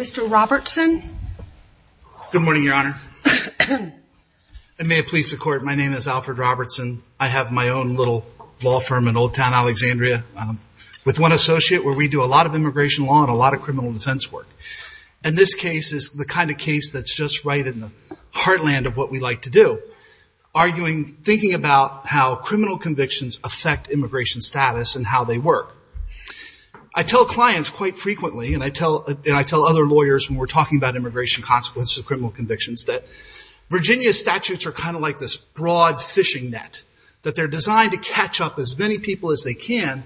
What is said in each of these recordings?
Mr. Robertson. Good morning your honor. I may have pleased the court. My name is Alfred Robertson. I have my own little law firm in Old Town Alexandria with one associate where we do a lot of immigration law and a lot of criminal defense work. And this case is the kind of case that's just right in the heartland of what we like to do. Arguing, thinking about how criminal convictions affect immigration status and how they work. I tell clients quite frequently and I tell other lawyers when we're talking about immigration consequences of criminal convictions that Virginia's statutes are kind of like this broad fishing net that they're designed to catch up as many people as they can,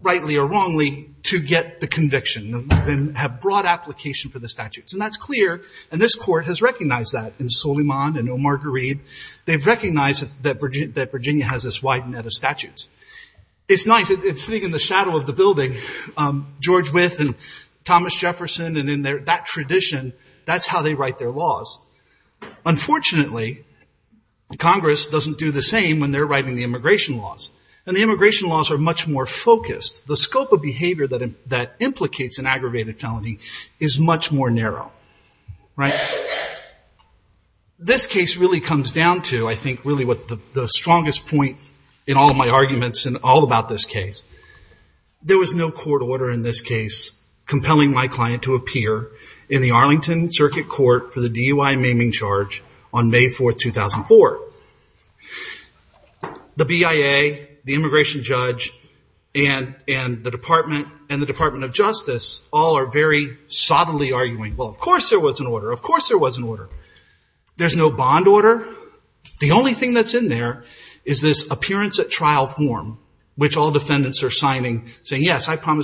rightly or wrongly, to get the conviction and have broad application for the statutes. And that's clear and this court has recognized that in Soliman and O'Marguerite. They've recognized that Virginia has this wide net of statutes. It's nice. It's sitting in the shadow of the building. George Wythe and Thomas Jefferson and in that tradition, that's how they write their laws. Unfortunately, Congress doesn't do the same when they're writing the immigration laws. And the immigration laws are much more focused. The scope of behavior that implicates an aggravated felony is much more narrow. This case really comes down to, I think, really what the strongest point in all of my court order in this case, compelling my client to appear in the Arlington Circuit Court for the DUI maiming charge on May 4th, 2004. The BIA, the immigration judge and the Department of Justice all are very solidly arguing, well of course there was an order. Of course there was an order. There's no bond order. The only thing that's in there is this appearance at trial order. He promised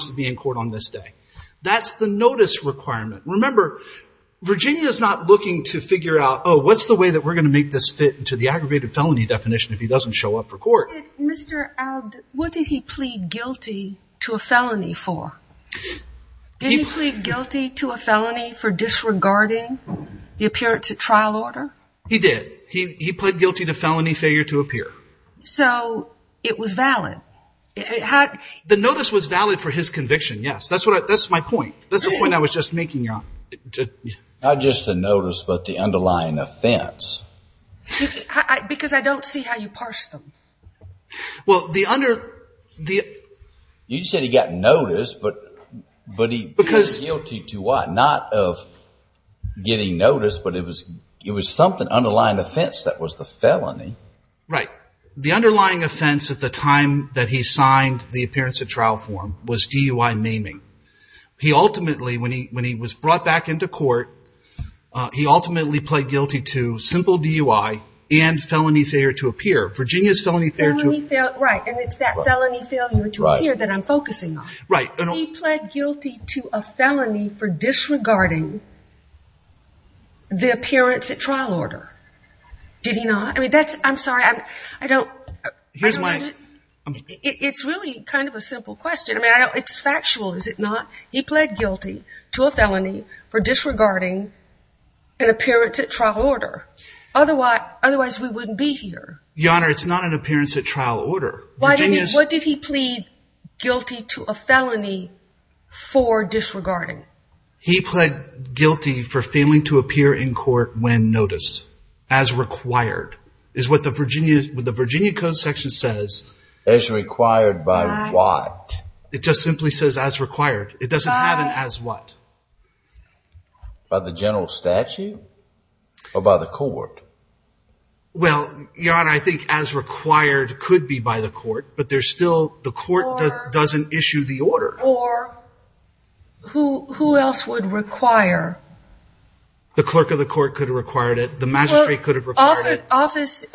to be in court on this day. That's the notice requirement. Remember, Virginia's not looking to figure out, oh, what's the way that we're going to make this fit into the aggravated felony definition if he doesn't show up for court. Mr. Abt, what did he plead guilty to a felony for? Did he plead guilty to a felony for disregarding the appearance at trial order? He did. He pled guilty to felony failure to appear. So it was valid? The notice was valid for his conviction, yes. That's my point. That's the point I was just making, Your Honor. Not just the notice, but the underlying offense. Because I don't see how you parsed them. Well, the under... You said he got notice, but he pleaded guilty to what? Not of getting notice, but it was something underlying offense that was the felony. Right. The underlying offense at the time that he signed the appearance at trial form was DUI maiming. He ultimately, when he was brought back into court, he ultimately pled guilty to simple DUI and felony failure to appear. Virginia's felony failure to... Felony failure, right. And it's that felony failure to appear that I'm focusing on. Right. He pled guilty to a felony for disregarding the appearance at trial order. Did he not? I mean, that's... I'm sorry. I don't... Here's my... It's really kind of a simple question. I mean, it's factual, is it not? He pled guilty to a felony for disregarding an appearance at trial order. Otherwise, we wouldn't be here. Your Honor, it's not an appearance at trial order. What did he plead guilty to a felony for disregarding? He pled guilty for failing to appear in court when noticed, as required, is what the Virginia Code section says. As required by what? It just simply says as required. It doesn't have an as what. By the general statute or by the court? Well, Your Honor, I think as required could be by the court, but there's still... The court doesn't issue the order. Or who else would require? The clerk of the court could have required it. The magistrate could have required it. Office...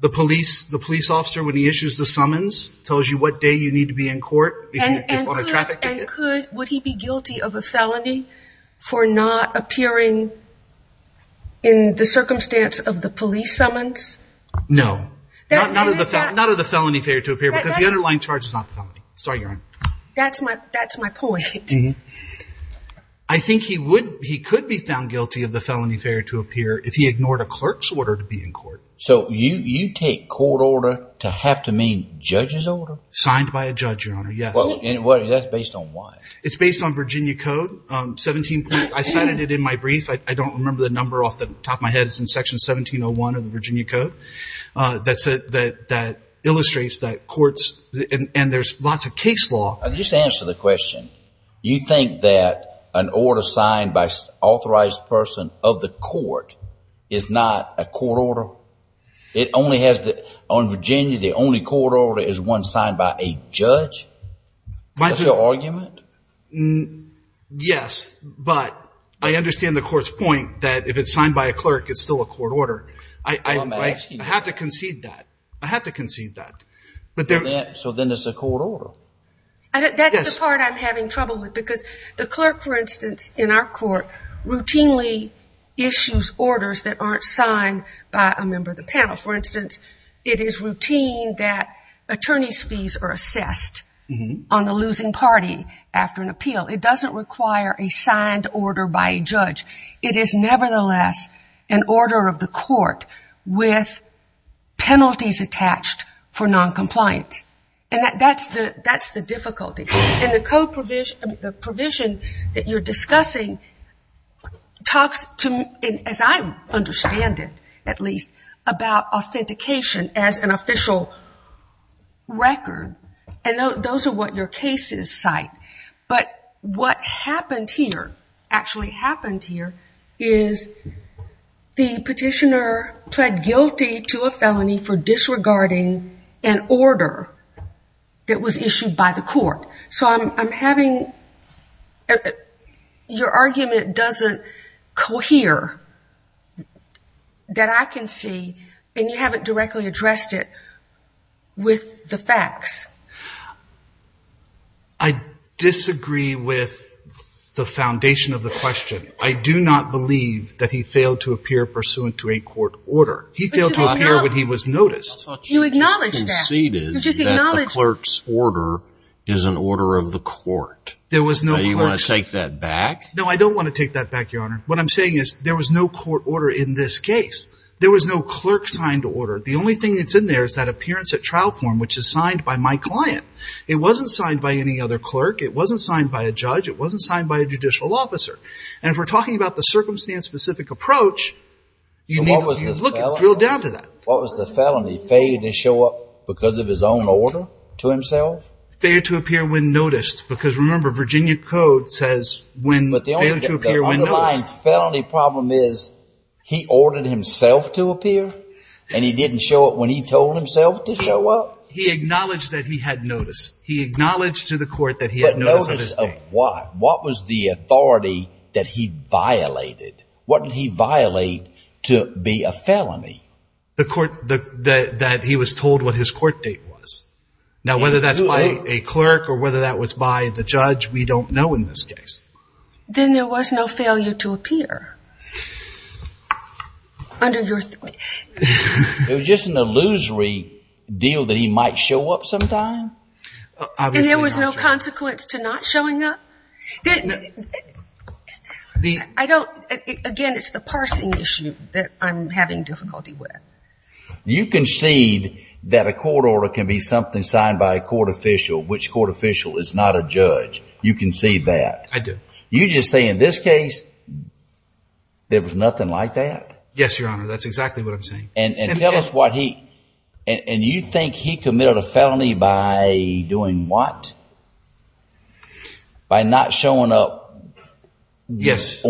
The police officer, when he issues the summons, tells you what day you need to be in court. And could... Would he be guilty of a felony for not appearing in the circumstance of the police summons? No. None of the felony failure to appear because the underlying charge is not the felony. Sorry, Your Honor. That's my point. I think he would... He could be found guilty of the felony failure to appear if he ignored a clerk's order to be in court. So you take court order to have to mean judge's order? Signed by a judge, Your Honor. Yes. Well, and what is that based on? Why? It's based on Virginia Code 17... I cited it in my brief. I don't remember the number off the top of my head. It's in Section 1701 of the Virginia Code. That's... That illustrates that courts... And there's lots of case law... Just answer the question. You think that an order signed by an authorized person of the court is not a court order? It only has the... On Virginia, the only court order is one signed by a judge? That's your argument? Yes, but I understand the court's point that if it's signed by a clerk, it's still a court order. I have to concede that. I have to concede that. So then it's a court order? That's the part I'm having trouble with because the clerk, for instance, in our court, routinely issues orders that aren't signed by a member of the panel. For instance, it is routine that attorney's fees are assessed on the losing party after an appeal. It doesn't require a signed order by a judge. It is nevertheless an order of the court with penalties attached for noncompliance. And that's the difficulty. And the code provision... The provision that you're discussing talks to... As I understand it, at least, about authentication as an official record. And those are what your cases cite. But what happened here, actually happened here, is the petitioner pled guilty to a felony for disregarding an order that was issued by the court. So I'm having... Your argument doesn't cohere that I can see, and you haven't directly addressed it with the facts. I disagree with the foundation of the question. I do not believe that he failed to appear pursuant to a court order. He failed to appear when he was noticed. You acknowledged that. You just conceded that the clerk's order is an order of the court. There was no clerk's... Do you want to take that back? No, I don't want to take that back, Your Honor. What I'm saying is there was no court order in this case. There was no clerk-signed order. The only thing that's in there is that appearance at trial form, which is signed by my client. It wasn't signed by any other clerk. It wasn't signed by a judge. It wasn't signed by a judicial officer. And if we're talking about the circumstance-specific approach, you need to drill down to that. What was the felony? Failure to show up because of his own order to himself? Failure to appear when noticed. Because remember, Virginia Code says failure to appear when noticed. The underlying felony problem is he ordered himself to appear, and he didn't show up when he told himself to show up? He acknowledged that he had notice. He acknowledged to the court that he had notice of his state. But notice of what? What was the authority that he violated? What did he violate to be a felony? The court that he was told what his court date was. Now, whether that's by a clerk or whether that was by the judge, we don't know in this case. Then there was no failure to appear under your... It was just an illusory deal that he might show up sometime? And there was no consequence to not showing up? Again, it's the parsing issue that I'm having difficulty with. You concede that a court order can be something signed by a court official, which court official is not a judge. You concede that? I do. You just say in this case, there was nothing like that? Yes, Your Honor. That's exactly what I'm saying. And tell us what he... And you think he committed a felony by doing what? By not showing up? Yes.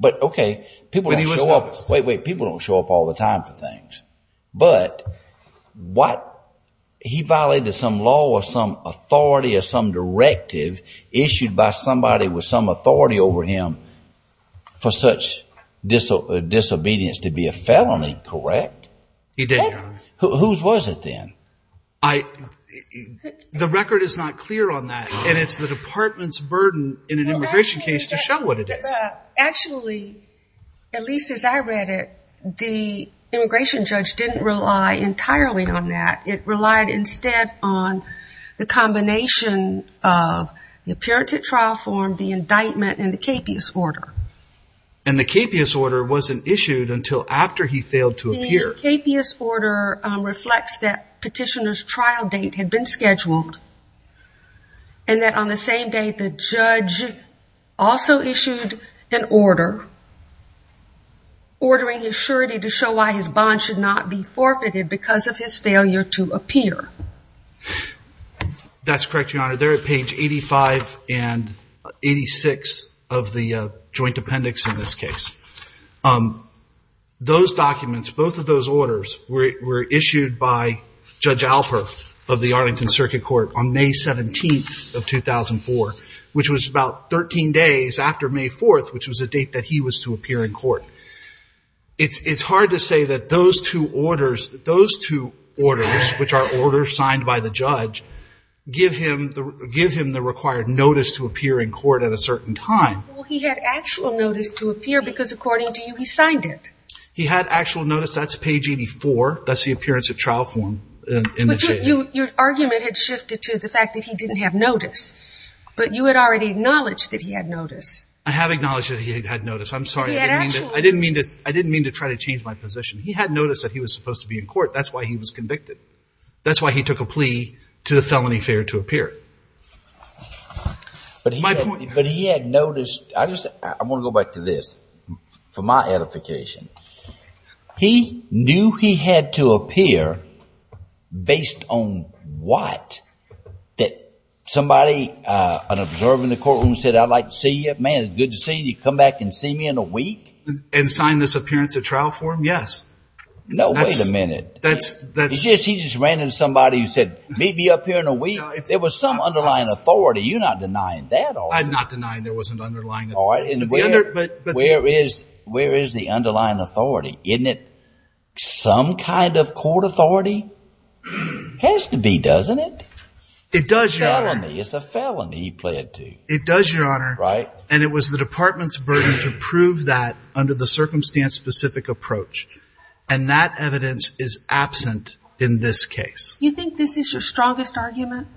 But okay, people don't show up... Wait, wait. People don't show up all the time for things. But what... He violated some law or some authority or some directive issued by somebody with some authority over him for such disobedience to be a felony, correct? He did, Your Honor. Whose was it then? The record is not clear on that. And it's the department's burden in an immigration case to show what it is. Actually, at least as I read it, the immigration judge didn't rely entirely on that. It relied instead on the combination of the appearance at trial form, the indictment, and the capious order. And the capious order wasn't issued until after he failed to appear. The capious order reflects that petitioner's trial date had been scheduled and that on the same day the judge also issued an order, ordering his surety to show why his bond should not be forfeited because of his failure to appear. That's correct, Your Honor. They're at page 85 and 86 of the joint appendix in this case. Those documents, both of those orders, were issued by Judge Alper of the Arlington Circuit Court on May 17th of 2004, which was about 13 days after May 4th, which was the date that he was to appear in court. It's hard to say that those two orders, which are orders signed by the judge, give him the required notice to appear in court at a certain time. Well, he had actual notice to appear because, according to you, he signed it. He had actual notice. That's page 84. That's the appearance at trial form in the case. Your argument had shifted to the fact that he didn't have notice, but you had already acknowledged that he had notice. I have acknowledged that he had notice. I'm sorry. I didn't mean to try to change my position. He had notice that he was supposed to be in court. That's why he was convicted. That's why he took a plea to the felony failure to appear. But he had notice. I want to go back to this for my edification. He knew he had to appear based on what? That somebody, an observer in the courtroom said, I'd like to see you. Man, it's good to see you. Come back and see me in a week? And sign this appearance at trial form? Yes. No, wait a minute. He just ran into somebody who said, meet me up here in a week? There was some underlying authority. You're not denying that, are you? I'm not denying there wasn't underlying authority. Where is the underlying authority? Isn't it some kind of court authority? Has to be, doesn't it? It's a felony. It's a felony he pled to. It does, Your Honor. Right. And it was the department's burden to prove that under the circumstance-specific approach. And that evidence is absent in this case. You think this is your strongest argument?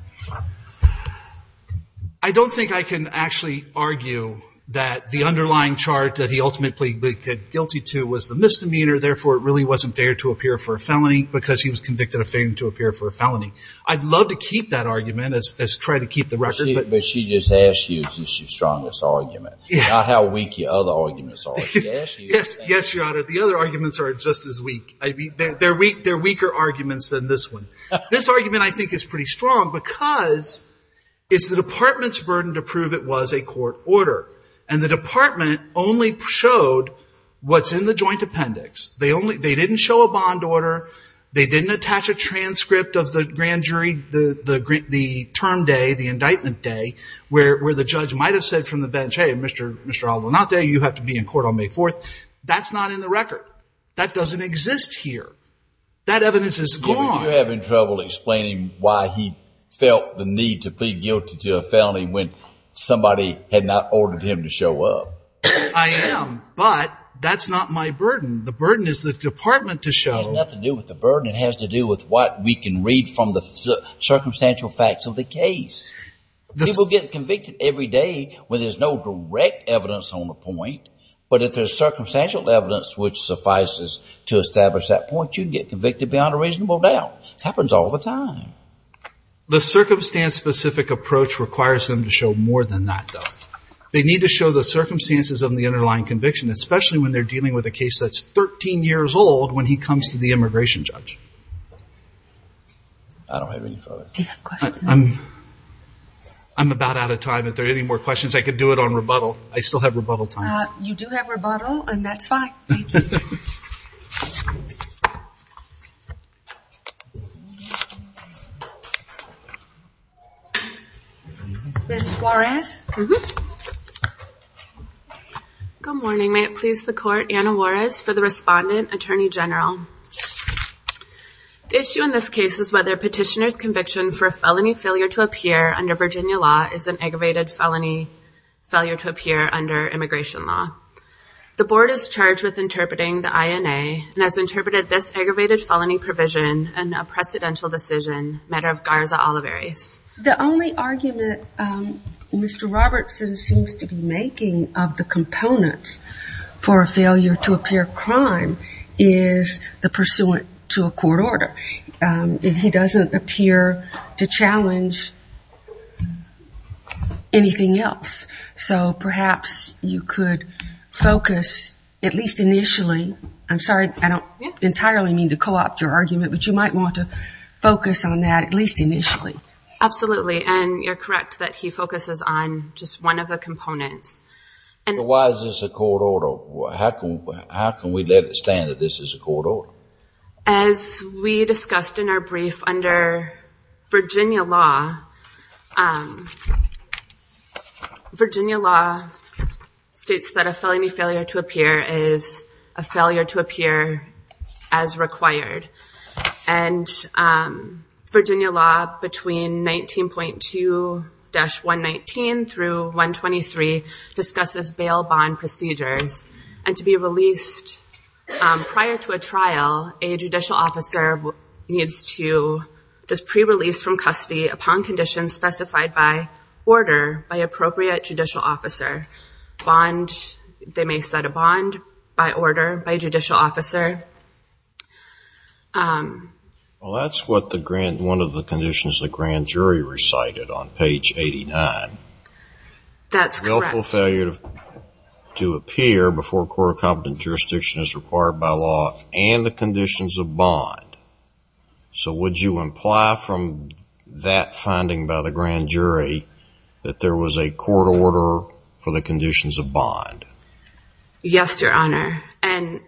I don't think I can actually argue that the underlying chart that he ultimately pleaded guilty to was the misdemeanor, therefore it really wasn't failure to appear for a felony because he was convicted of failure to appear for a felony. I'd love to keep that argument as try to keep the record. But she just asked you if this is your strongest argument, not how weak your other arguments are. Yes, Your Honor. The other arguments are just as weak. They're weaker arguments than this one. This argument I think is pretty strong because it's the department's burden to prove it was a court order. And the department only showed what's in the joint appendix. They didn't show a bond order. They didn't attach a transcript of the grand jury, the term day, the indictment day, where the judge might have said from the bench, hey, Mr. Aldo, not there, you have to be in court on May 4th. That's not in the record. That doesn't exist here. That evidence is gone. You're having trouble explaining why he felt the need to plead guilty to a felony when somebody had not ordered him to show up. I am. But that's not my burden. The burden is the department to show. It has nothing to do with the burden. It has to do with what we can read from the circumstantial facts of the case. People get convicted every day when there's no direct evidence on the point. But if there's circumstantial evidence which suffices to establish that point, you can get convicted beyond a reasonable doubt. It happens all the time. The circumstance-specific approach requires them to show more than that, though. They need to show the circumstances of the underlying conviction, especially when they're dealing with a case that's 13 years old when he comes to the immigration judge. I don't have any further. Do you have questions? I'm about out of time. If there are any more questions, I could do it on rebuttal. I still have rebuttal time. You do have rebuttal, and that's fine. Thank you. Ms. Juarez? Good morning. May it please the Court, Anna Juarez for the respondent, Attorney General. The issue in this case is whether a petitioner's conviction for a felony failure to appear under Virginia law is an aggravated felony failure to appear under immigration law. The Board is charged with interpreting the INA and has interpreted this aggravated felony provision in a precedential decision, matter of Garza-Olivares. The only argument Mr. Robertson seems to be making of the components for a failure to appear crime is the pursuant to a court order. He doesn't appear to challenge anything else. So perhaps you could focus at least initially, I'm sorry, I don't entirely mean to co-opt your argument, but you might want to focus on that at least initially. Absolutely. And you're correct that he focuses on just one of the components. So why is this a court order? How can we let it stand that this is a court order? As we discussed in our brief under Virginia law, Virginia law states that a felony failure to appear is a failure to appear as required. And Virginia law, between 19.2-119 through 123, discusses bail bond procedures. And to be released prior to a trial, a judicial officer needs to just pre-release from custody upon conditions specified by order by appropriate judicial officer. They may set a bond by order by judicial officer. Well, that's what one of the conditions the grand jury recited on page 89. That's correct. Willful failure to appear before a court of competent jurisdiction is required by law and the conditions of bond. So would you imply from that finding by the grand jury that there was a court order for the conditions of bond? Yes, Your Honor. And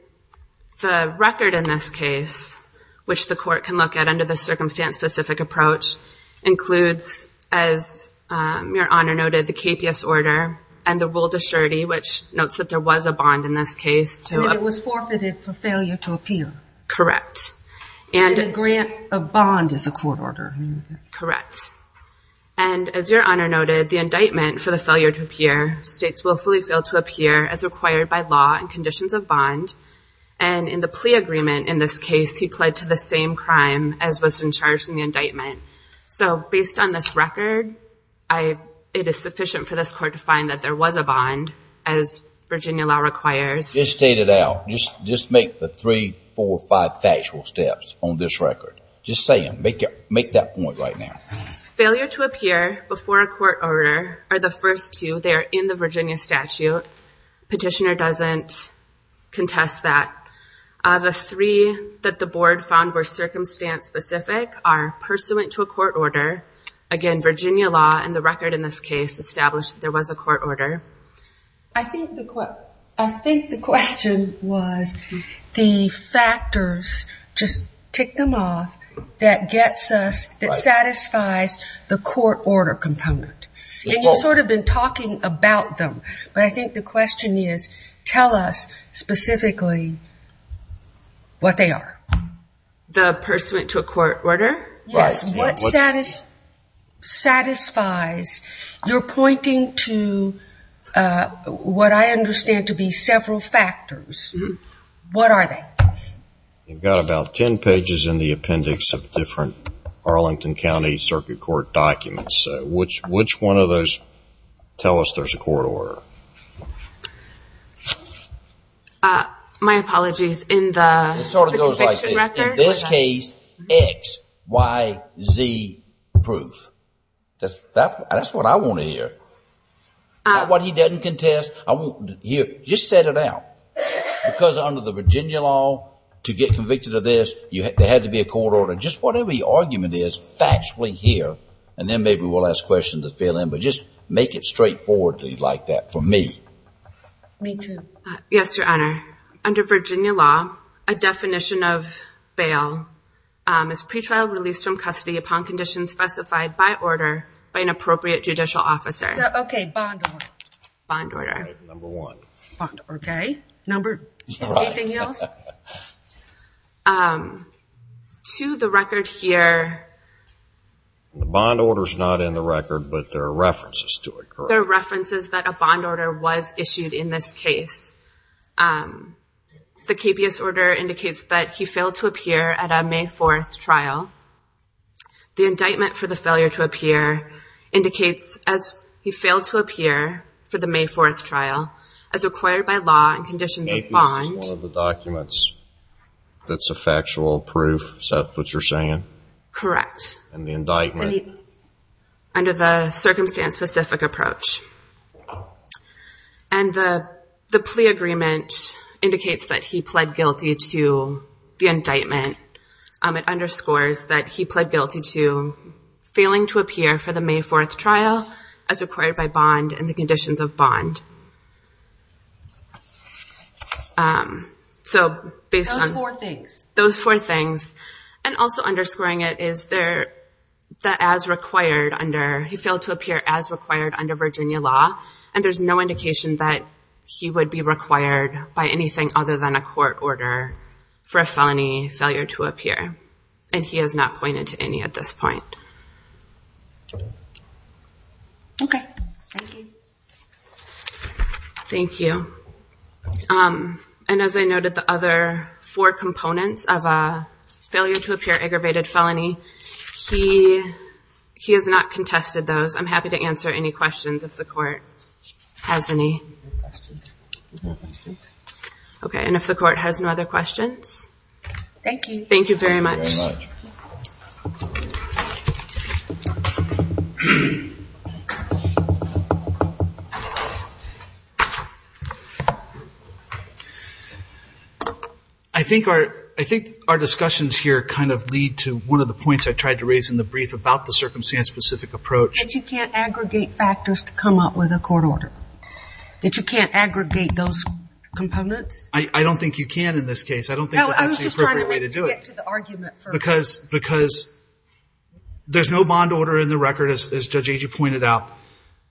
the record in this case, which the court can look at under the circumstance-specific approach, includes, as Your Honor noted, the KPS order and the will to surety, which notes that there was a bond in this case. And it was forfeited for failure to appear. Correct. And a grant of bond is a court order. Correct. And as Your Honor noted, the indictment for the failure to appear states willfully fail to appear as required by law and conditions of bond. And in the plea agreement in this case, he pled to the same crime as was in charge in the indictment. So based on this record, it is sufficient for this court to find that there was a bond, as Virginia law requires. Just state it out. Just make the three, four, five factual steps on this record. Just say them. Make that point right now. Failure to appear before a court order are the first two. They are in the Virginia statute. Petitioner doesn't contest that. The three that the board found were circumstance-specific are pursuant to a court order. Again, Virginia law and the record in this case established that there was a court order. I think the question was the factors, just tick them off, that gets us, that satisfies the court order component. And you've sort of been talking about them, but I think the question is tell us specifically what they are. The pursuant to a court order? Yes. What satisfies, you're pointing to what I understand to be several factors. What are they? You've got about 10 pages in the appendix of different Arlington County Circuit Court documents. Which one of those tell us there's a court order? My apologies, in the conviction record? In this case, X, Y, Z proof. That's what I want to hear. Not what he doesn't contest. Just set it out. Because under the Virginia law, to get convicted of this, there had to be a court order. Just whatever your argument is, factually here, and then maybe we'll ask questions to fill in, but just make it straightforward like that for me. Me too. Yes, Your Honor. Under Virginia law, a definition of bail is pretrial release from custody upon conditions specified by order by an appropriate judicial officer. Okay, bond order. Bond order. Number one. Okay. Number two. Anything else? To the record here. The bond order's not in the record, but there are references to it, correct? There are references that a bond order was issued in this case. The capious order indicates that he failed to appear at a May 4th trial. The indictment for the failure to appear indicates as he failed to appear for the May 4th trial, as required by law and conditions of bond. Capious is one of the documents that's a factual proof. Is that what you're saying? Correct. And the indictment? Under the circumstance-specific approach. And the plea agreement indicates that he pled guilty to the indictment. It underscores that he pled guilty to failing to appear for the May 4th trial, as required by bond and the conditions of bond. Those four things. Those four things. And also underscoring it is that he failed to appear as required under Virginia law, and there's no indication that he would be required by anything other than a court order for a felony failure to appear. And he has not pointed to any at this point. Okay. Thank you. Thank you. And as I noted, the other four components of a failure to appear aggravated felony, he has not contested those. I'm happy to answer any questions if the court has any. No questions. Okay. And if the court has no other questions? Thank you. Thank you very much. Thank you very much. I think our discussions here kind of lead to one of the points I tried to raise in the brief about the circumstance-specific approach. That you can't aggregate factors to come up with a court order. That you can't aggregate those components. I don't think you can in this case. I don't think that's the appropriate way to do it. No, I was just trying to make you get to the argument first. Because there's no bond order in the record, as Judge Agee pointed out.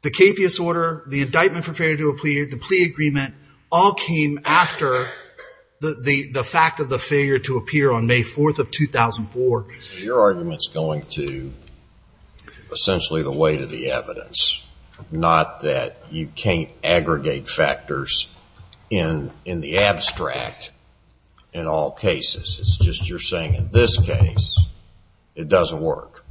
The capious order, the indictment for failure to do a plea, the plea agreement all came after the fact of the failure to appear on May 4th of 2004. So your argument's going to essentially the weight of the evidence. Not that you can't aggregate factors in the abstract in all cases. It's just you're saying in this case it doesn't work.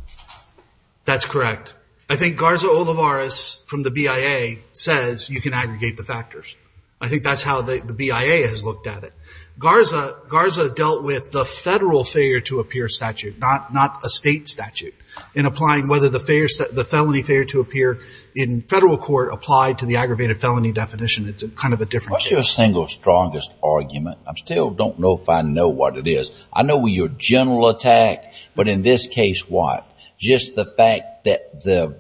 That's correct. I think Garza Olivares from the BIA says you can aggregate the factors. I think that's how the BIA has looked at it. Garza dealt with the federal failure to appear statute, not a state statute. In applying whether the felony failure to appear in federal court applied to the aggravated felony definition. It's kind of a different case. What's your single strongest argument? I still don't know if I know what it is. I know your general attack. But in this case, what? Just the fact that the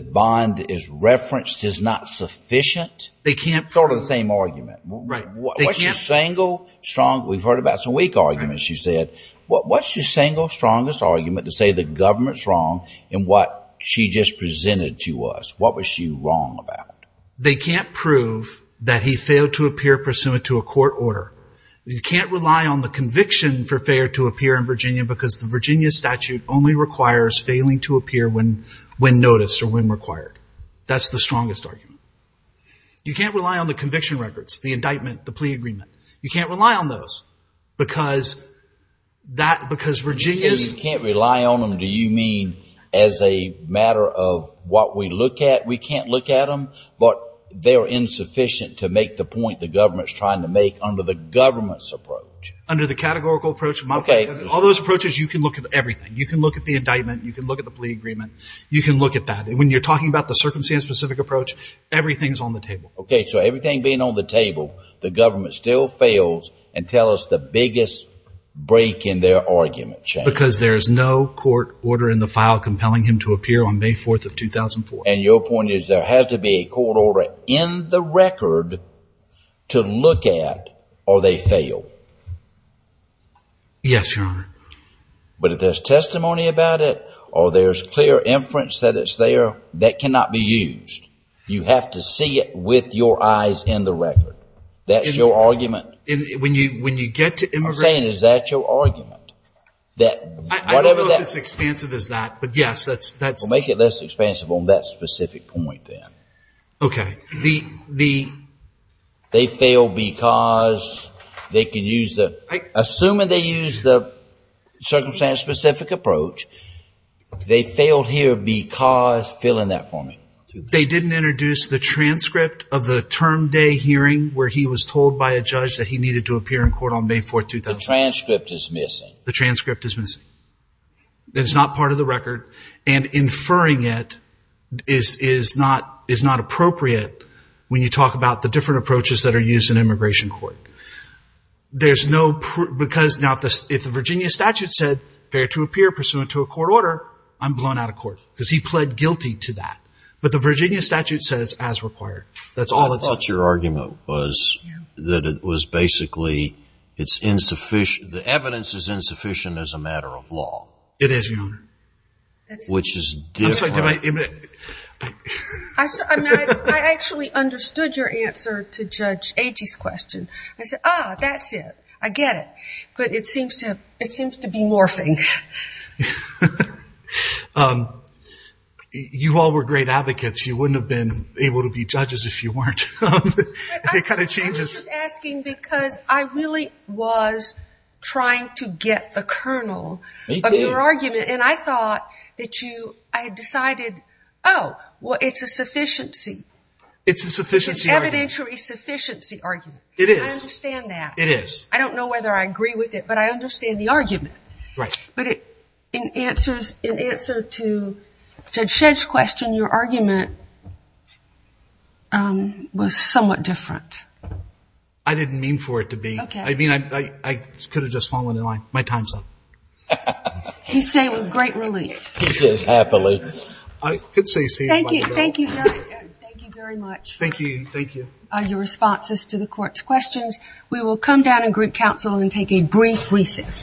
bond is referenced is not sufficient? Sort of the same argument. Right. What's your single strongest? We've heard about some weak arguments, you said. What's your single strongest argument to say the government's wrong in what she just presented to us? What was she wrong about? They can't prove that he failed to appear pursuant to a court order. You can't rely on the conviction for failure to appear in Virginia because the Virginia statute only requires failing to appear when noticed or when required. That's the strongest argument. You can't rely on the conviction records, the indictment, the plea agreement. You can't rely on those because Virginia's- You can't rely on them. Do you mean as a matter of what we look at, we can't look at them? But they're insufficient to make the point the government's trying to make under the government's approach. Under the categorical approach. All those approaches, you can look at everything. You can look at the indictment. You can look at the plea agreement. You can look at that. When you're talking about the circumstance-specific approach, everything's on the table. Okay. So everything being on the table, the government still fails and tell us the biggest break in their argument. Because there is no court order in the file compelling him to appear on May 4th of 2004. And your point is there has to be a court order in the record to look at or they fail. Yes, Your Honor. But if there's testimony about it or there's clear inference that it's there, that cannot be used. You have to see it with your eyes in the record. That's your argument. When you get to immigration. I'm saying is that your argument? I don't know if it's as expansive as that. But, yes, that's. Make it less expansive on that specific point then. Okay. The. They fail because they can use the. Assuming they use the circumstance-specific approach, they failed here because. Fill in that for me. They didn't introduce the transcript of the term day hearing where he was told by a judge that he needed to appear in court on May 4th, 2004. The transcript is missing. The transcript is missing. It's not part of the record. And inferring it is not appropriate when you talk about the different approaches that are used in immigration court. There's no. Because now if the Virginia statute said fair to appear pursuant to a court order, I'm blown out of court. Because he pled guilty to that. But the Virginia statute says as required. That's all it says. I thought your argument was that it was basically it's insufficient. The evidence is insufficient as a matter of law. It is, Your Honor. Which is different. I'm sorry. I actually understood your answer to Judge Agee's question. I said, ah, that's it. I get it. But it seems to be morphing. You all were great advocates. You wouldn't have been able to be judges if you weren't. It kind of changes. I was just asking because I really was trying to get the kernel of your argument. And I thought that you had decided, oh, well, it's a sufficiency. It's a sufficiency argument. It's evidentiary sufficiency argument. It is. I understand that. It is. I don't know whether I agree with it, but I understand the argument. Right. But in answer to Judge Shedd's question, your argument was somewhat different. I didn't mean for it to be. Okay. I mean, I could have just fallen in line. My time's up. You say with great relief. He says happily. I could say same. Thank you. Thank you very much. Thank you. Thank you. Your response is to the Court's questions. We will come down in Greek Council and take a brief recess.